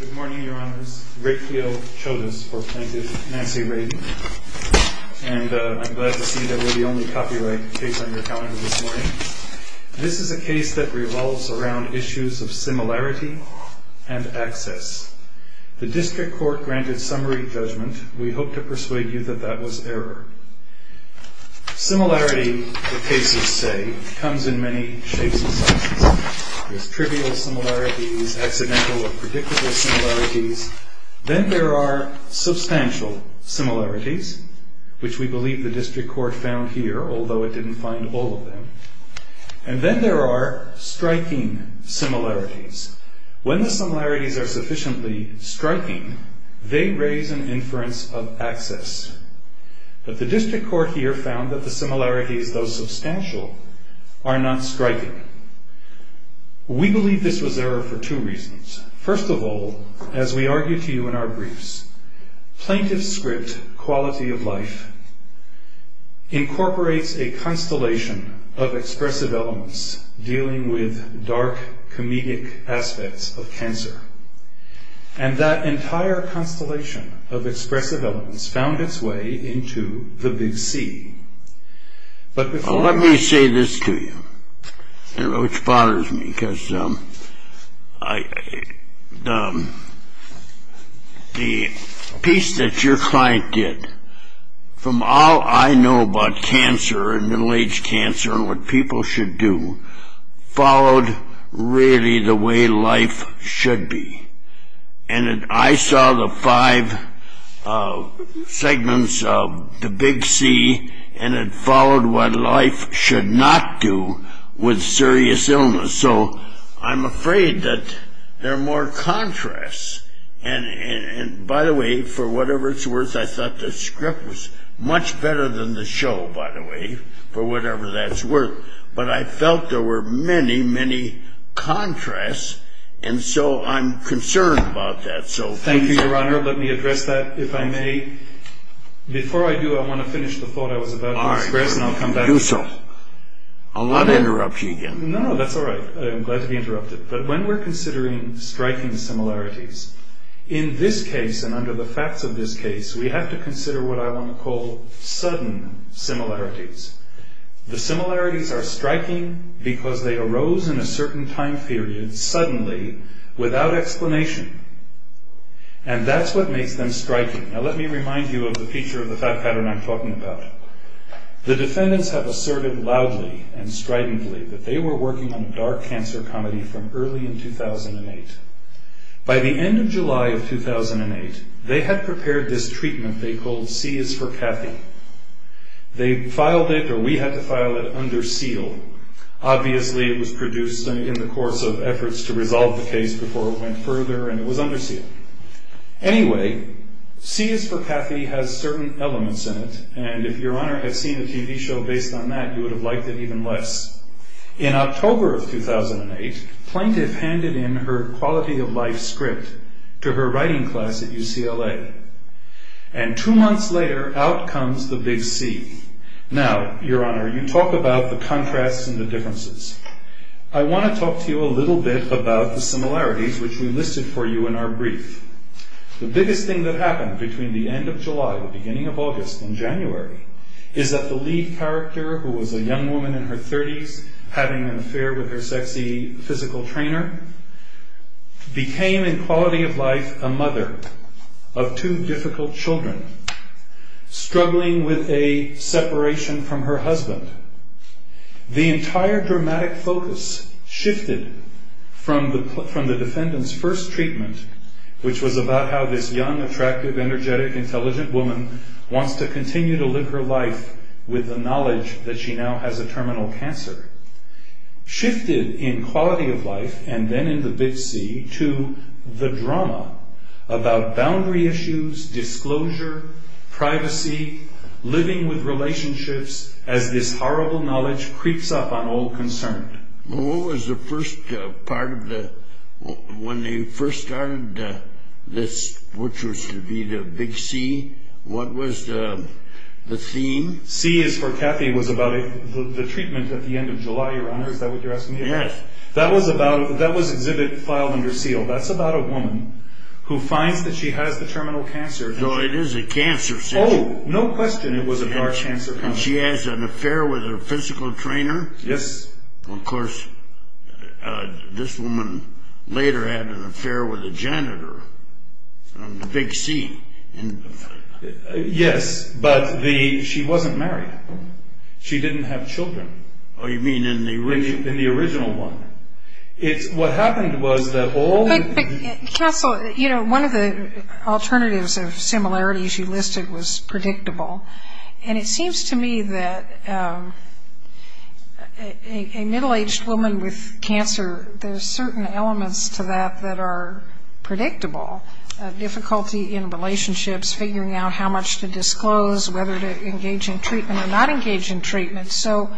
Good morning, Your Honors. Raytheo Chodas, or, thank you, Nancy Radin. And I'm glad to see that we're the only copyright case on your calendar this morning. This is a case that revolves around issues of similarity and access. The District Court granted summary judgment. We hope to persuade you that that was error. There's trivial similarities, accidental or predictable similarities. Then there are substantial similarities, which we believe the District Court found here, although it didn't find all of them. And then there are striking similarities. When the similarities are sufficiently striking, they raise an inference of access. But the District Court here found that the similarities, though substantial, are not striking. We believe this was error for two reasons. First of all, as we argue to you in our briefs, plaintiff's script, quality of life, incorporates a constellation of expressive elements dealing with dark, comedic aspects of cancer. And that entire constellation of expressive elements found its way into the big C. But before I... Let me say this to you, which bothers me, because the piece that your client did, from all I know about cancer and middle-aged cancer and what people should do, followed really the way life should be. And I saw the five segments of the big C, and it followed what life should not do with serious illness. So I'm afraid that there are more contrasts. And by the way, for whatever it's worth, I thought the script was much better than the show, by the way, for whatever that's worth. But I felt there were many, many contrasts, and so I'm concerned about that. Thank you, Your Honor. Let me address that, if I may. Before I do, I want to finish the thought I was about to express, and I'll come back. All right. Do so. I'll not interrupt you again. No, that's all right. I'm glad to be interrupted. But when we're considering striking similarities, in this case and under the facts of this case, we have to consider what I want to call sudden similarities. The similarities are striking because they arose in a certain time period, suddenly, without explanation. And that's what makes them striking. Now, let me remind you of the feature of the fact pattern I'm talking about. The defendants have asserted loudly and stridently that they were working on a dark cancer comedy from early in 2008. By the end of July of 2008, they had prepared this treatment they called C is for Kathy. They filed it, or we had to file it, under seal. Obviously, it was produced in the course of efforts to resolve the case before it went further, and it was under seal. Anyway, C is for Kathy has certain elements in it, and if Your Honor had seen a TV show based on that, you would have liked it even less. In October of 2008, Plaintiff handed in her quality-of-life script to her writing class at UCLA. And two months later, out comes the big C. Now, Your Honor, you talk about the contrasts and the differences. I want to talk to you a little bit about the similarities which we listed for you in our brief. The biggest thing that happened between the end of July, the beginning of August, and January is that the lead character, who was a young woman in her 30s, having an affair with her sexy physical trainer, became in quality-of-life a mother of two difficult children, struggling with a separation from her husband. The entire dramatic focus shifted from the defendant's first treatment, which was about how this young, attractive, energetic, intelligent woman wants to continue to live her life with the knowledge that she now has a terminal cancer, shifted in quality-of-life, and then in the big C, to the drama about boundary issues, disclosure, privacy, living with relationships as this horrible knowledge creeps up on all concerned. When they first started this, which was to be the big C, what was the theme? C is for Cathy, was about the treatment at the end of July, Your Honor. Is that what you're asking me? Yes. That was exhibit filed under seal. That's about a woman who finds that she has the terminal cancer. So it is a cancer. Oh, no question it was a dark cancer. And she has an affair with her physical trainer? Yes. Of course, this woman later had an affair with a janitor on the big C. Yes, but she wasn't married. She didn't have children. Oh, you mean in the original one? In the original one. What happened was that all the- Counsel, one of the alternatives of similarities you listed was predictable, and it seems to me that a middle-aged woman with cancer, there's certain elements to that that are predictable. Difficulty in relationships, figuring out how much to disclose, whether to engage in treatment or not engage in treatment. So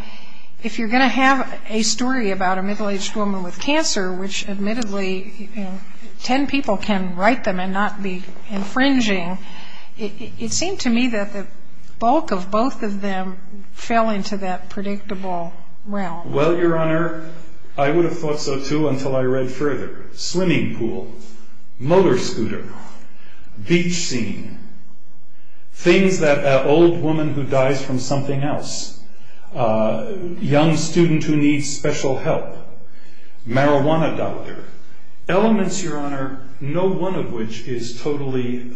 if you're going to have a story about a middle-aged woman with cancer, which admittedly 10 people can write them and not be infringing, it seemed to me that the bulk of both of them fell into that predictable realm. Well, Your Honor, I would have thought so too until I read further. Swimming pool, motor scooter, beach scene, things that an old woman who dies from something else, young student who needs special help, marijuana doctor, elements, Your Honor, no one of which is totally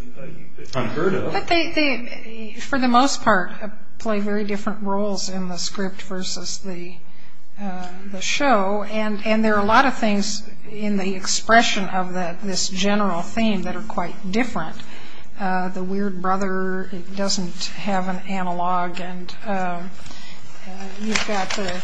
unheard of. But they, for the most part, play very different roles in the script versus the show, and there are a lot of things in the expression of this general theme that are quite different. The weird brother doesn't have an analog, and you've got the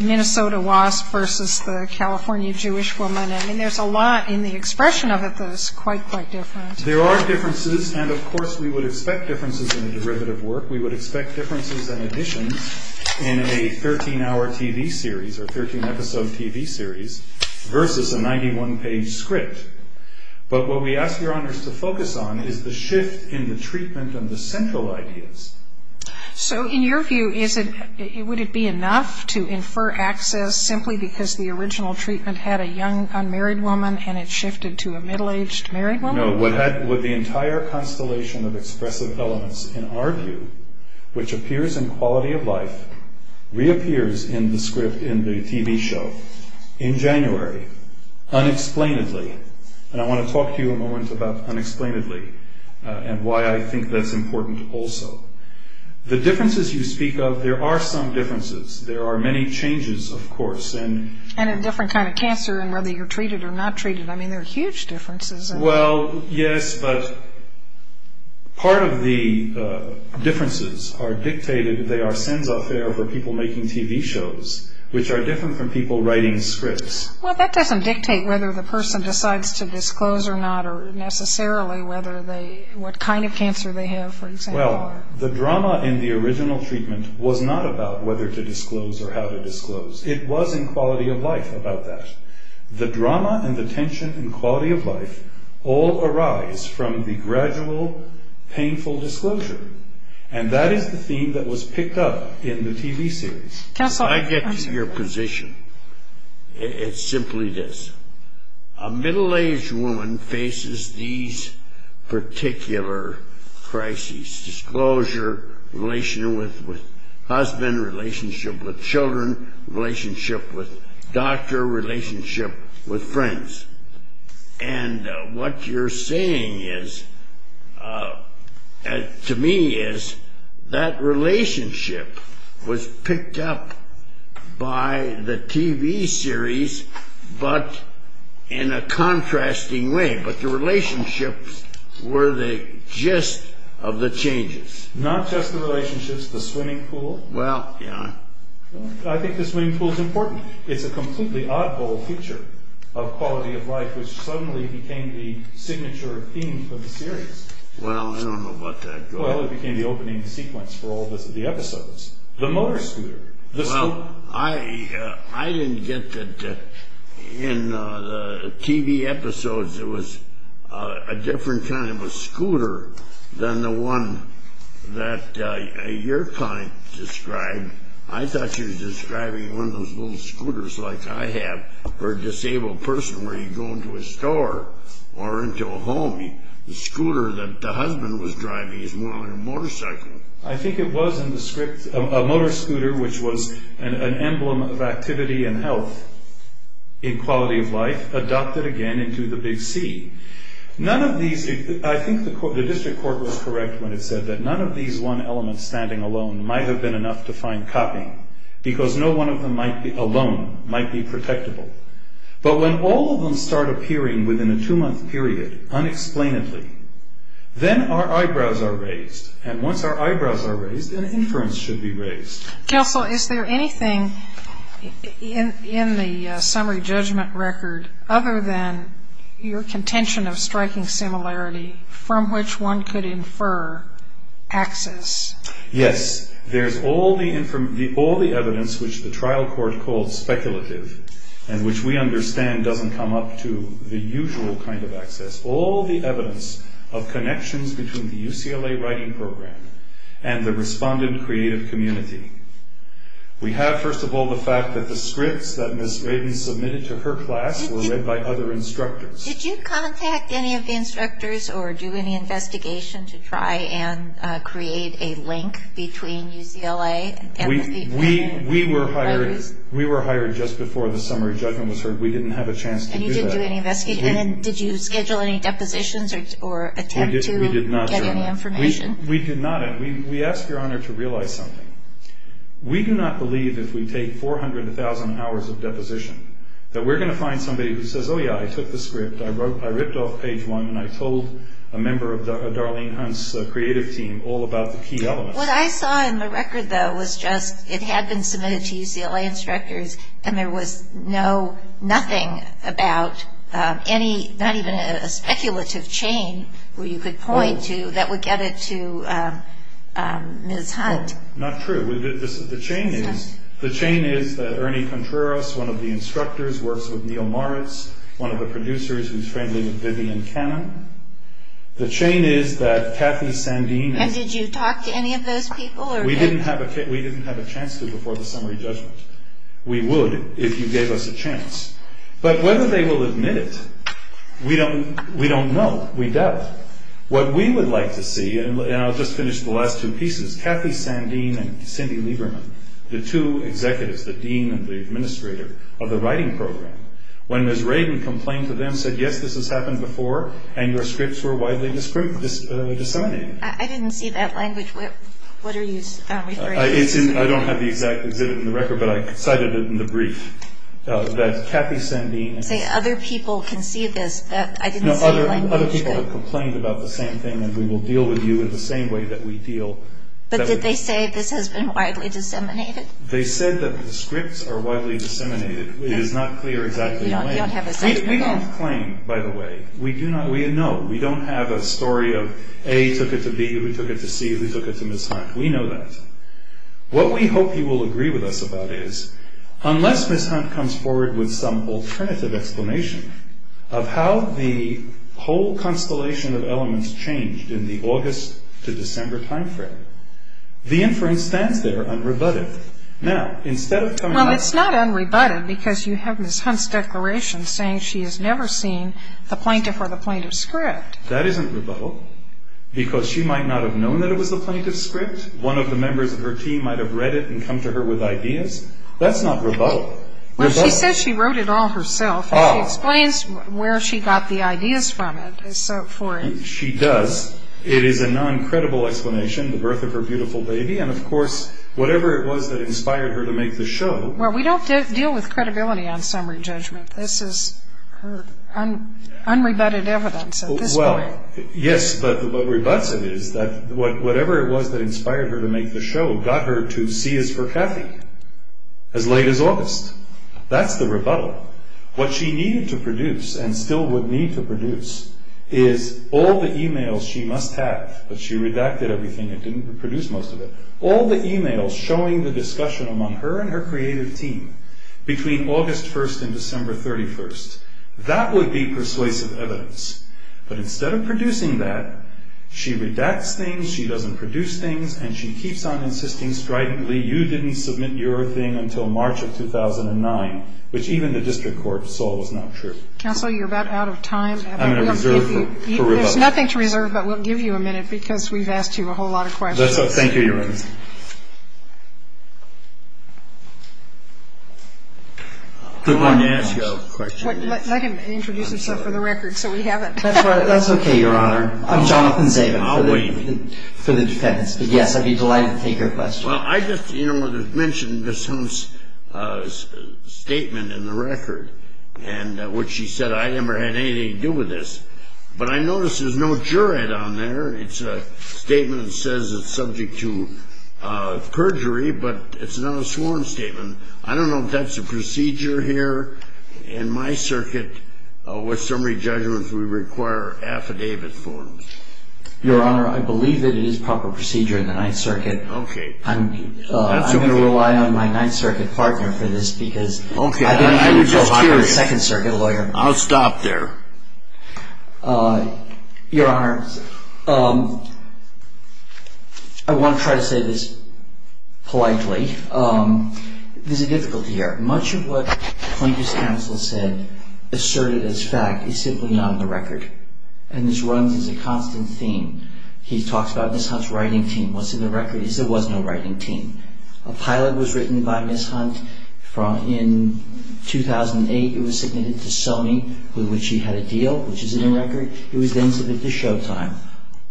Minnesota wasp versus the California Jewish woman. I mean, there's a lot in the expression of it that is quite, quite different. There are differences, and, of course, we would expect differences in the derivative work. We would expect differences in additions in a 13-hour TV series or 13-episode TV series versus a 91-page script. But what we ask Your Honors to focus on is the shift in the treatment of the central ideas. So in your view, would it be enough to infer access simply because the original treatment had a young unmarried woman and it shifted to a middle-aged married woman? No, would the entire constellation of expressive elements in our view, which appears in Quality of Life, reappears in the script in the TV show in January unexplainedly? And I want to talk to you a moment about unexplainedly and why I think that's important also. The differences you speak of, there are some differences. There are many changes, of course. And a different kind of cancer in whether you're treated or not treated. I mean, there are huge differences. Well, yes, but part of the differences are dictated. They are sense of error for people making TV shows, which are different from people writing scripts. Well, that doesn't dictate whether the person decides to disclose or not or necessarily what kind of cancer they have, for example. Well, the drama in the original treatment was not about whether to disclose or how to disclose. It was in Quality of Life about that. The drama and the tension in Quality of Life all arise from the gradual painful disclosure. And that is the theme that was picked up in the TV series. Can I get to your position? It's simply this. A middle-aged woman faces these particular crises, disclosure, relationship with husband, relationship with children, relationship with doctor, relationship with friends. And what you're saying to me is that relationship was picked up by the TV series, but in a contrasting way. But the relationships were the gist of the changes. Not just the relationships, the swimming pool. Well, yeah. I think the swimming pool is important. It's a completely oddball feature of Quality of Life, which suddenly became the signature theme for the series. Well, I don't know about that. Well, it became the opening sequence for all the episodes. The motor scooter. Well, I didn't get that in the TV episodes there was a different kind of a scooter than the one that your client described. I thought she was describing one of those little scooters like I have for a disabled person where you go into a store or into a home. The scooter that the husband was driving is more like a motorcycle. I think it was in the script. A motor scooter, which was an emblem of activity and health in Quality of Life, adopted again into the big C. I think the district court was correct when it said that none of these one elements standing alone might have been enough to find copying, because no one of them alone might be protectable. But when all of them start appearing within a two-month period, unexplainedly, then our eyebrows are raised. And once our eyebrows are raised, an inference should be raised. Counsel, is there anything in the summary judgment record other than your contention of striking similarity from which one could infer access? Yes. There's all the evidence which the trial court called speculative and which we understand doesn't come up to the usual kind of access. There's all the evidence of connections between the UCLA writing program and the respondent creative community. We have, first of all, the fact that the scripts that Ms. Raiden submitted to her class were read by other instructors. Did you contact any of the instructors or do any investigation to try and create a link between UCLA and the people who wrote it? We were hired just before the summary judgment was heard. And you didn't do any investigation? And did you schedule any depositions or attempt to get any information? We did not. We asked Your Honor to realize something. We do not believe if we take 400,000 hours of deposition that we're going to find somebody who says, oh, yeah, I took the script, I ripped off page one, and I told a member of Darlene Hunt's creative team all about the key elements. What I saw in the record, though, was just it had been submitted to UCLA instructors and there was no, nothing about any, not even a speculative chain where you could point to that would get it to Ms. Hunt. Not true. The chain is that Ernie Contreras, one of the instructors, works with Neil Morris, one of the producers who's friendly with Vivian Cannon. The chain is that Kathy Sandini And did you talk to any of those people? We didn't have a chance to before the summary judgment. We would if you gave us a chance. But whether they will admit it, we don't know. We doubt. What we would like to see, and I'll just finish the last two pieces, Kathy Sandini and Cindy Lieberman, the two executives, the dean and the administrator of the writing program, when Ms. Radin complained to them, said, yes, this has happened before, and your scripts were widely disseminated. I didn't see that language. What are you referring to? I don't have the exact exhibit in the record, but I cited it in the brief, that Kathy Sandini Other people can see this. I didn't see the language. Other people have complained about the same thing, and we will deal with you in the same way that we deal. But did they say this has been widely disseminated? They said that the scripts are widely disseminated. It is not clear exactly why. You don't have a sentiment. We don't claim, by the way. We don't have a story of A took it to B, who took it to C, who took it to Ms. Hunt. We know that. What we hope you will agree with us about is, unless Ms. Hunt comes forward with some alternative explanation of how the whole constellation of elements changed in the August to December time frame, the inference stands there unrebutted. Now, instead of coming up with- Well, it's not unrebutted because you have Ms. Hunt's declaration saying she has never seen the plaintiff or the plaintiff's script. That isn't rebuttal because she might not have known that it was the plaintiff's script. One of the members of her team might have read it and come to her with ideas. That's not rebuttal. Well, she says she wrote it all herself, and she explains where she got the ideas from for it. She does. It is a non-credible explanation, the birth of her beautiful baby, and, of course, whatever it was that inspired her to make the show. Well, we don't deal with credibility on summary judgment. This is unrebutted evidence at this point. Well, yes, but what rebutts it is that whatever it was that inspired her to make the show got her to see as for Kathy as late as August. That's the rebuttal. What she needed to produce and still would need to produce is all the e-mails she must have, but she redacted everything and didn't produce most of it, all the e-mails showing the discussion among her and her creative team between August 1st and December 31st. That would be persuasive evidence, but instead of producing that, she redacts things, she doesn't produce things, and she keeps on insisting stridently you didn't submit your thing until March of 2009, which even the district court saw was not true. Counsel, you're about out of time. I'm going to reserve for rebuttal. There's nothing to reserve, but we'll give you a minute because we've asked you a whole lot of questions. Thank you, Your Honor. I wanted to ask you a question. Let him introduce himself for the record so we have it. That's okay, Your Honor. I'm Jonathan Zabin. I'll wait. For the defense. Yes, I'd be delighted to take your question. Well, I just mentioned Ms. Holmes' statement in the record, which she said I never had anything to do with this, but I notice there's no jurid on there. It's a statement that says it's subject to perjury, but it's not a sworn statement. I don't know if that's a procedure here in my circuit. With summary judgments, we require affidavit forms. Your Honor, I believe it is proper procedure in the Ninth Circuit. Okay. I'm going to rely on my Ninth Circuit partner for this because I didn't know you were a Second Circuit lawyer. I'll stop there. Your Honor, I want to try to say this politely. There's a difficulty here. Much of what the plaintiff's counsel said asserted as fact is simply not in the record, and this runs as a constant theme. He talks about Ms. Hunt's writing team. What's in the record is there was no writing team. A pilot was written by Ms. Hunt in 2008. It was submitted to Sony, with which he had a deal, which is in the record. It was then submitted to Showtime.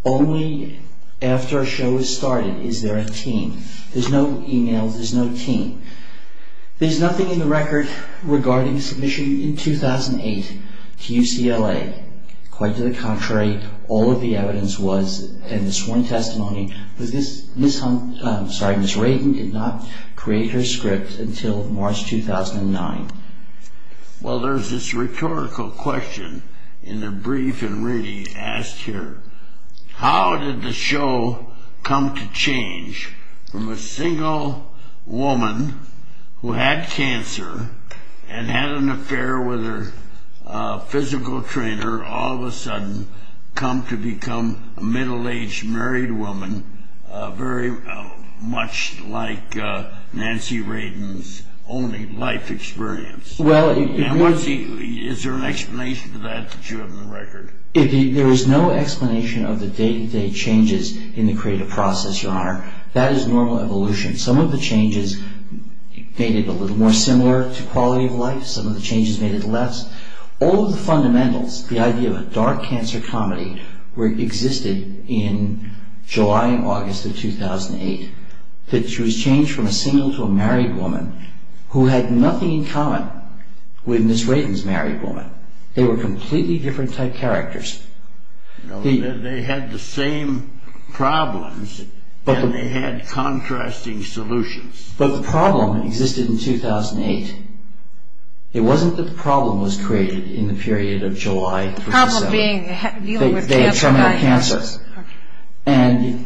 Only after a show is started is there a team. There's no email. There's no team. There's nothing in the record regarding submission in 2008 to UCLA. Quite to the contrary, all of the evidence was in the sworn testimony, but Ms. Hunt, I'm sorry, Ms. Radin did not create her script until March 2009. Well, there's this rhetorical question in the brief, and Rady asked here, how did the show come to change from a single woman who had cancer and had an affair with her physical trainer, all of a sudden come to become a middle-aged married woman, very much like Nancy Radin's only life experience? Is there an explanation to that that you have in the record? There is no explanation of the day-to-day changes in the creative process, Your Honor. That is normal evolution. Some of the changes made it a little more similar to quality of life. Some of the changes made it less. All of the fundamentals, the idea of a dark cancer comedy, existed in July and August of 2008. It was changed from a single to a married woman who had nothing in common with Ms. Radin's married woman. They were completely different type characters. They had the same problems, but they had contrasting solutions. But the problem existed in 2008. It wasn't that the problem was created in the period of July 2007. The problem being dealing with cancer? They had terminal cancer.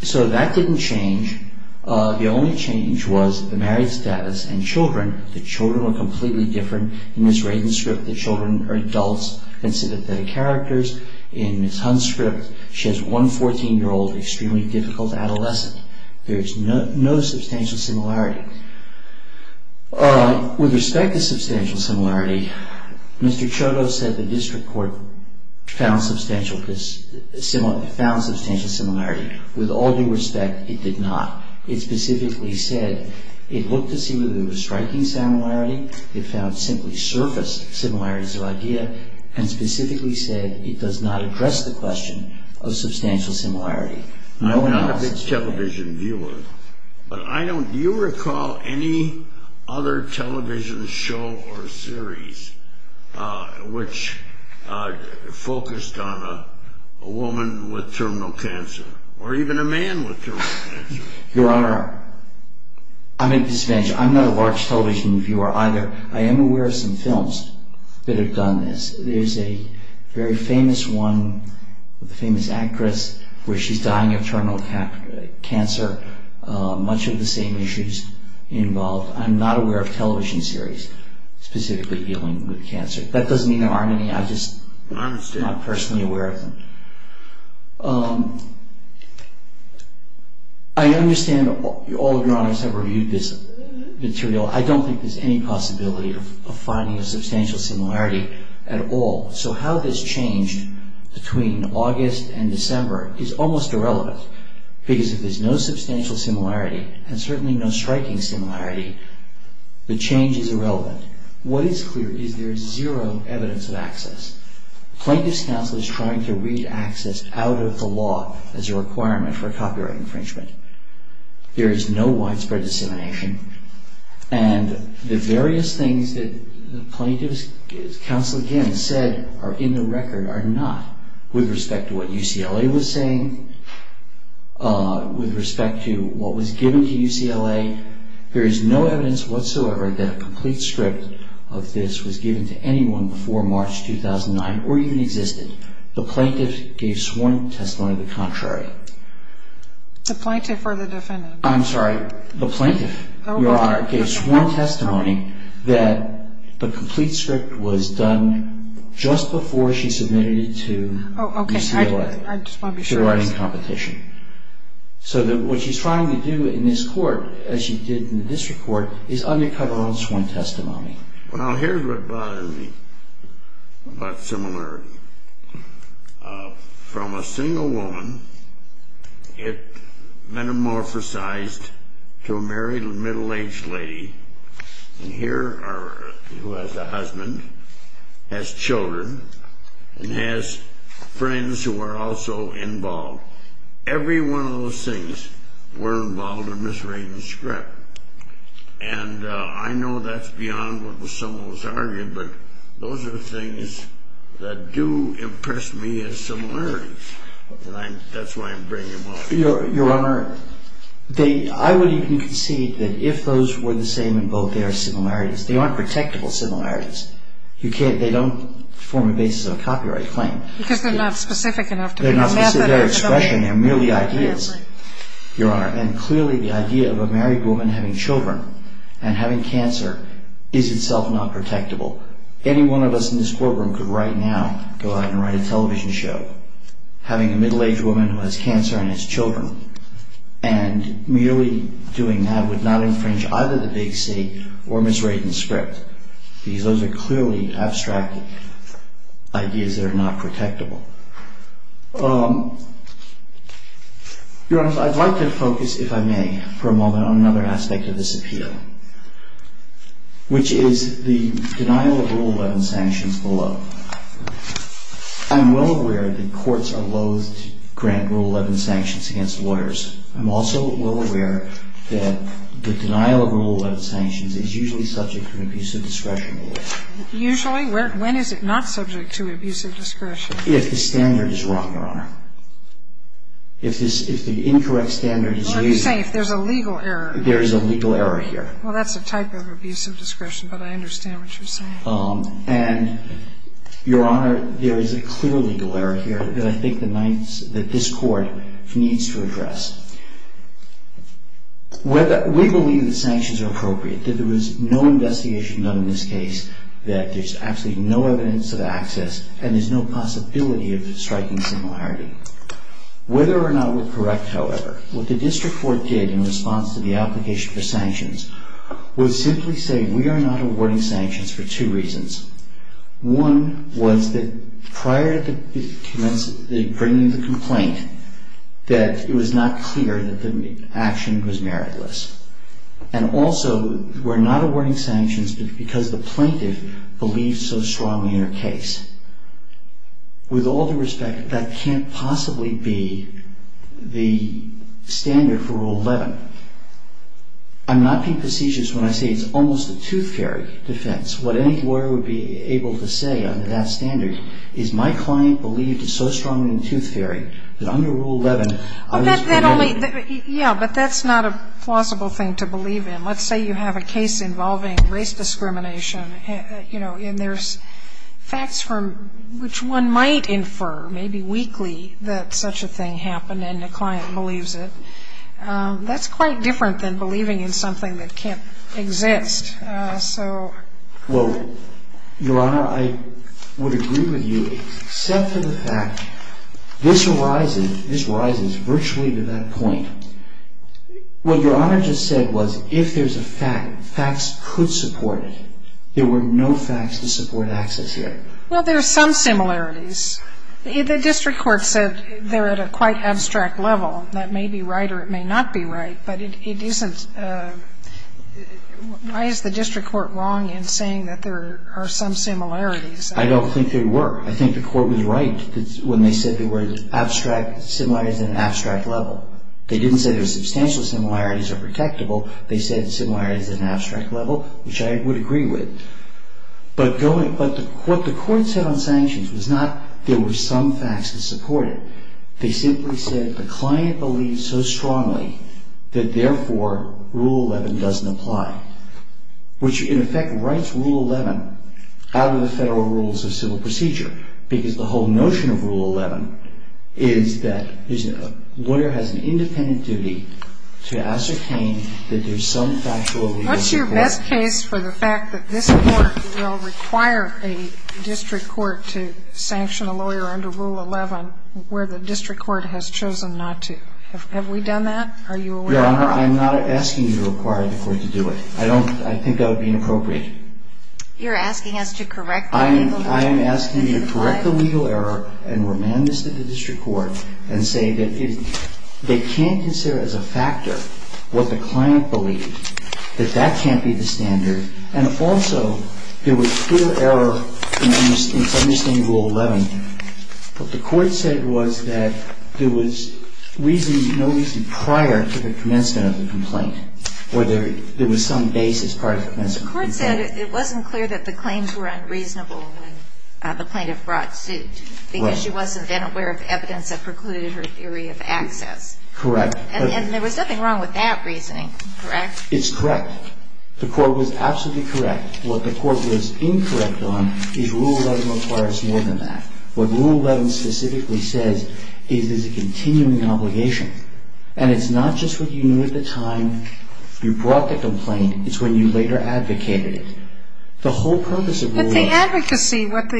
So that didn't change. The only change was the married status and children. The children were completely different. In Ms. Radin's script, the children are adults instead of the characters. In Ms. Hunt's script, she has one 14-year-old extremely difficult adolescent. There is no substantial similarity. With respect to substantial similarity, Mr. Chodos said the district court found substantial similarity. With all due respect, it did not. It specifically said it looked to see whether there was striking similarity. It found simply surface similarities of idea and specifically said it does not address the question of substantial similarity. I'm not a big television viewer, but do you recall any other television show or series which focused on a woman with terminal cancer or even a man with terminal cancer? Your Honor, I'm at a disadvantage. I'm not a large television viewer either. I am aware of some films that have done this. There's a very famous one with a famous actress where she's dying of terminal cancer. Much of the same issues involved. I'm not aware of television series specifically dealing with cancer. That doesn't mean there aren't any. I'm just not personally aware of them. I understand all of Your Honors have reviewed this material. I don't think there's any possibility of finding a substantial similarity at all. So how this changed between August and December is almost irrelevant because if there's no substantial similarity and certainly no striking similarity, the change is irrelevant. What is clear is there is zero evidence of access. Plaintiff's counsel is trying to read access out of the law as a requirement for copyright infringement. There is no widespread dissemination. And the various things that the plaintiff's counsel, again, said are in the record are not. With respect to what UCLA was saying, with respect to what was given to UCLA, there is no evidence whatsoever that a complete script of this was given to anyone before March 2009 or even existed. The plaintiff gave sworn testimony of the contrary. The plaintiff or the defendant? I'm sorry, the plaintiff, Your Honor, gave sworn testimony that the complete script was done just before she submitted it to UCLA. Oh, okay. I just want to be sure. She was already in competition. So what she's trying to do in this court, as she did in the district court, is undercut her own sworn testimony. Well, here's what bothers me about similarity. From a single woman, it metamorphosized to a married middle-aged lady, who has a husband, has children, and has friends who are also involved. Every one of those things were involved in Ms. Radin's script. And I know that's beyond what was some of what was argued, but those are the things that do impress me as similarities, and that's why I'm bringing them up. Your Honor, I would even concede that if those were the same in both, they are similarities. They aren't protectable similarities. They don't form a basis of a copyright claim. Because they're not specific enough to be a method or a domain. They're not specific. They're expression. They're merely ideas. Clearly, the idea of a married woman having children and having cancer is itself not protectable. Any one of us in this courtroom could right now go out and write a television show having a middle-aged woman who has cancer and has children, and merely doing that would not infringe either the Big C or Ms. Radin's script. Because those are clearly abstract ideas that are not protectable. Your Honor, I'd like to focus, if I may, for a moment on another aspect of this appeal, which is the denial of Rule 11 sanctions below. I'm well aware that courts are loath to grant Rule 11 sanctions against lawyers. I'm also well aware that the denial of Rule 11 sanctions is usually subject to an abusive discretion. Usually? When is it not subject to abusive discretion? If the standard is wrong, Your Honor. If the incorrect standard is used... What are you saying? If there's a legal error... There is a legal error here. Well, that's a type of abusive discretion, but I understand what you're saying. And, Your Honor, there is a clear legal error here that I think that this Court needs to address. We believe the sanctions are appropriate, that there was no investigation done in this case, that there's actually no evidence of access, and there's no possibility of striking similarity. Whether or not we're correct, however, what the District Court did in response to the application for sanctions was simply say we are not awarding sanctions for two reasons. One was that prior to bringing the complaint, that it was not clear that the action was meritless. And also, we're not awarding sanctions because the plaintiff believes so strongly in her case. With all due respect, that can't possibly be the standard for Rule 11. I'm not being facetious when I say it's almost a tooth fairy defense. What any lawyer would be able to say under that standard is my client believed so strongly in the tooth fairy that under Rule 11... Well, that only... Yeah, but that's not a plausible thing to believe in. Let's say you have a case involving race discrimination, and there's facts from which one might infer, maybe weakly, that such a thing happened and the client believes it. That's quite different than believing in something that can't exist. Well, Your Honor, I would agree with you, except for the fact this arises virtually to that point. What Your Honor just said was if there's a fact, facts could support it. There were no facts to support access here. Well, there are some similarities. The district court said they're at a quite abstract level. That may be right or it may not be right, but it isn't. Why is the district court wrong in saying that there are some similarities? I don't think there were. I think the court was right when they said there were abstract similarities at an abstract level. They didn't say there were substantial similarities or protectable. They said similarities at an abstract level, which I would agree with. But what the court said on sanctions was not there were some facts to support it. They simply said the client believes so strongly that, therefore, Rule 11 doesn't apply, which, in effect, writes Rule 11 out of the federal rules of civil procedure because the whole notion of Rule 11 is that there's a lawyer has an independent duty to ascertain that there's some factual evidence to support it. What's your best case for the fact that this Court will require a district court to sanction a lawyer under Rule 11 where the district court has chosen not to? Have we done that? Are you aware of that? Your Honor, I'm not asking you to require the court to do it. I don't think that would be inappropriate. You're asking us to correct that in Rule 11? I am asking you to correct the legal error and remand this to the district court and say that they can't consider as a factor what the client believed, that that can't be the standard. And also, there was clear error in understanding Rule 11. What the court said was that there was no reason prior to the commencement of the complaint or there was some basis prior to the commencement of the complaint. The court said it wasn't clear that the claims were unreasonable when the plaintiff brought suit because she wasn't aware of evidence that precluded her theory of access. Correct. And there was nothing wrong with that reasoning, correct? It's correct. The court was absolutely correct. What the court was incorrect on is Rule 11 requires more than that. What Rule 11 specifically says is there's a continuing obligation. And it's not just what you knew at the time you brought the complaint. It's when you later advocated it. The whole purpose of Rule 11. But the advocacy, what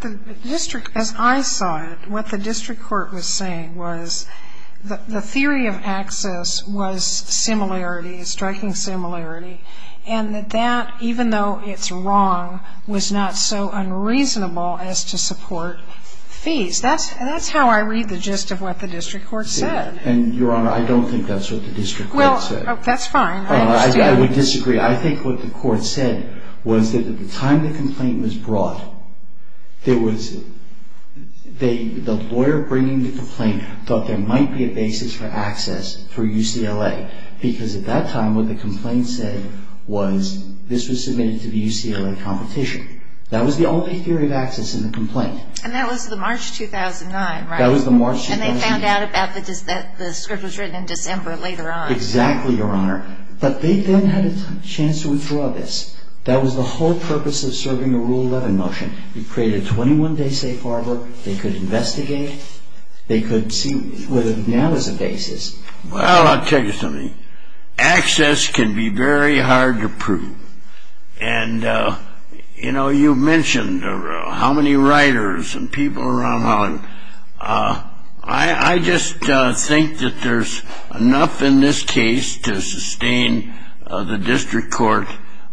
the district, as I saw it, what the district court was saying was the theory of access was similarity, striking similarity, and that that, even though it's wrong, was not so unreasonable as to support fees. That's how I read the gist of what the district court said. And, Your Honor, I don't think that's what the district court said. Well, that's fine. I would disagree. I think what the court said was that at the time the complaint was brought, there was, the lawyer bringing the complaint thought there might be a basis for access for UCLA because at that time what the complaint said was this was submitted to the UCLA competition. That was the only theory of access in the complaint. And that was the March 2009, right? That was the March 2009. And they found out about, the script was written in December later on. Exactly, Your Honor. But they then had a chance to withdraw this. That was the whole purpose of serving the Rule 11 motion. It created a 21-day safe harbor. They could investigate. They could see whether there now was a basis. Well, I'll tell you something. Access can be very hard to prove. And, you know, you mentioned how many writers and people around Holland. I just think that there's enough in this case to sustain the district court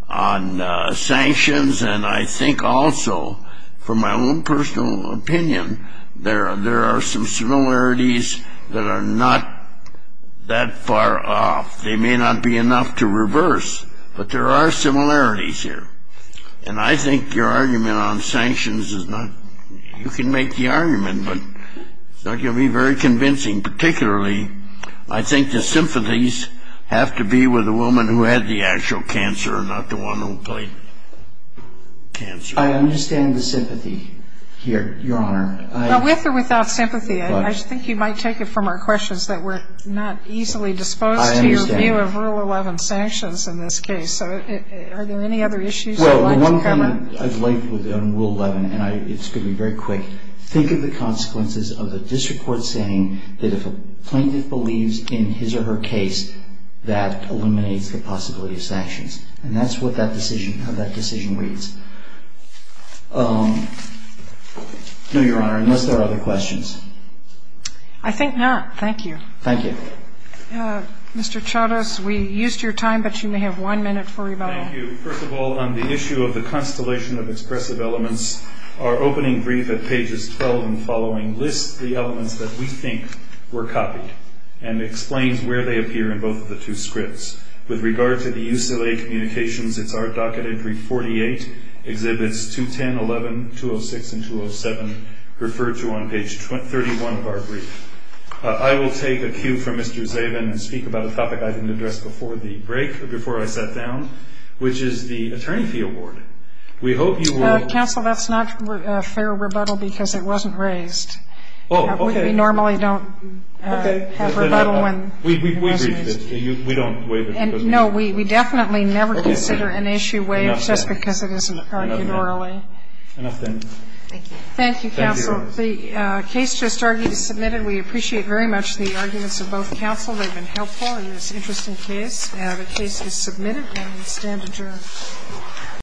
on sanctions. And I think also, from my own personal opinion, there are some similarities that are not that far off. They may not be enough to reverse, but there are similarities here. And I think your argument on sanctions is not, you can make the argument, but it's not going to be very convincing. Particularly, I think the sympathies have to be with the woman who had the actual cancer and not the one who played cancer. I understand the sympathy here, Your Honor. Now, with or without sympathy, I think you might take it from our questions that we're not easily disposed to your view of Rule 11 sanctions in this case. Are there any other issues? Well, the one thing I've liked on Rule 11, and it's going to be very quick, think of the consequences of the district court saying that if a plaintiff believes in his or her case, that eliminates the possibility of sanctions. And that's what that decision, how that decision reads. No, Your Honor, unless there are other questions. I think not. Thank you. Thank you. Mr. Charas, we used your time, but you may have one minute for rebuttal. Thank you. First of all, on the issue of the constellation of expressive elements, our opening brief at pages 12 and following lists the elements that we think were copied and explains where they appear in both of the two scripts. With regard to the use of a communications, it's our docket entry 48, exhibits 210, 11, 206, and 207, referred to on page 31 of our brief. I will take a cue from Mr. Zabin and speak about a topic I didn't address before the break, before I sat down, which is the attorney fee award. We hope you will. Counsel, that's not fair rebuttal because it wasn't raised. Oh, okay. We normally don't have rebuttal when. We don't waive it. No, we definitely never consider an issue waived just because it isn't argued orally. Enough then. Thank you. Thank you, counsel. The case just argued is submitted. We appreciate very much the arguments of both counsel. They've been helpful in this interesting case. The case is submitted and we stand adjourned.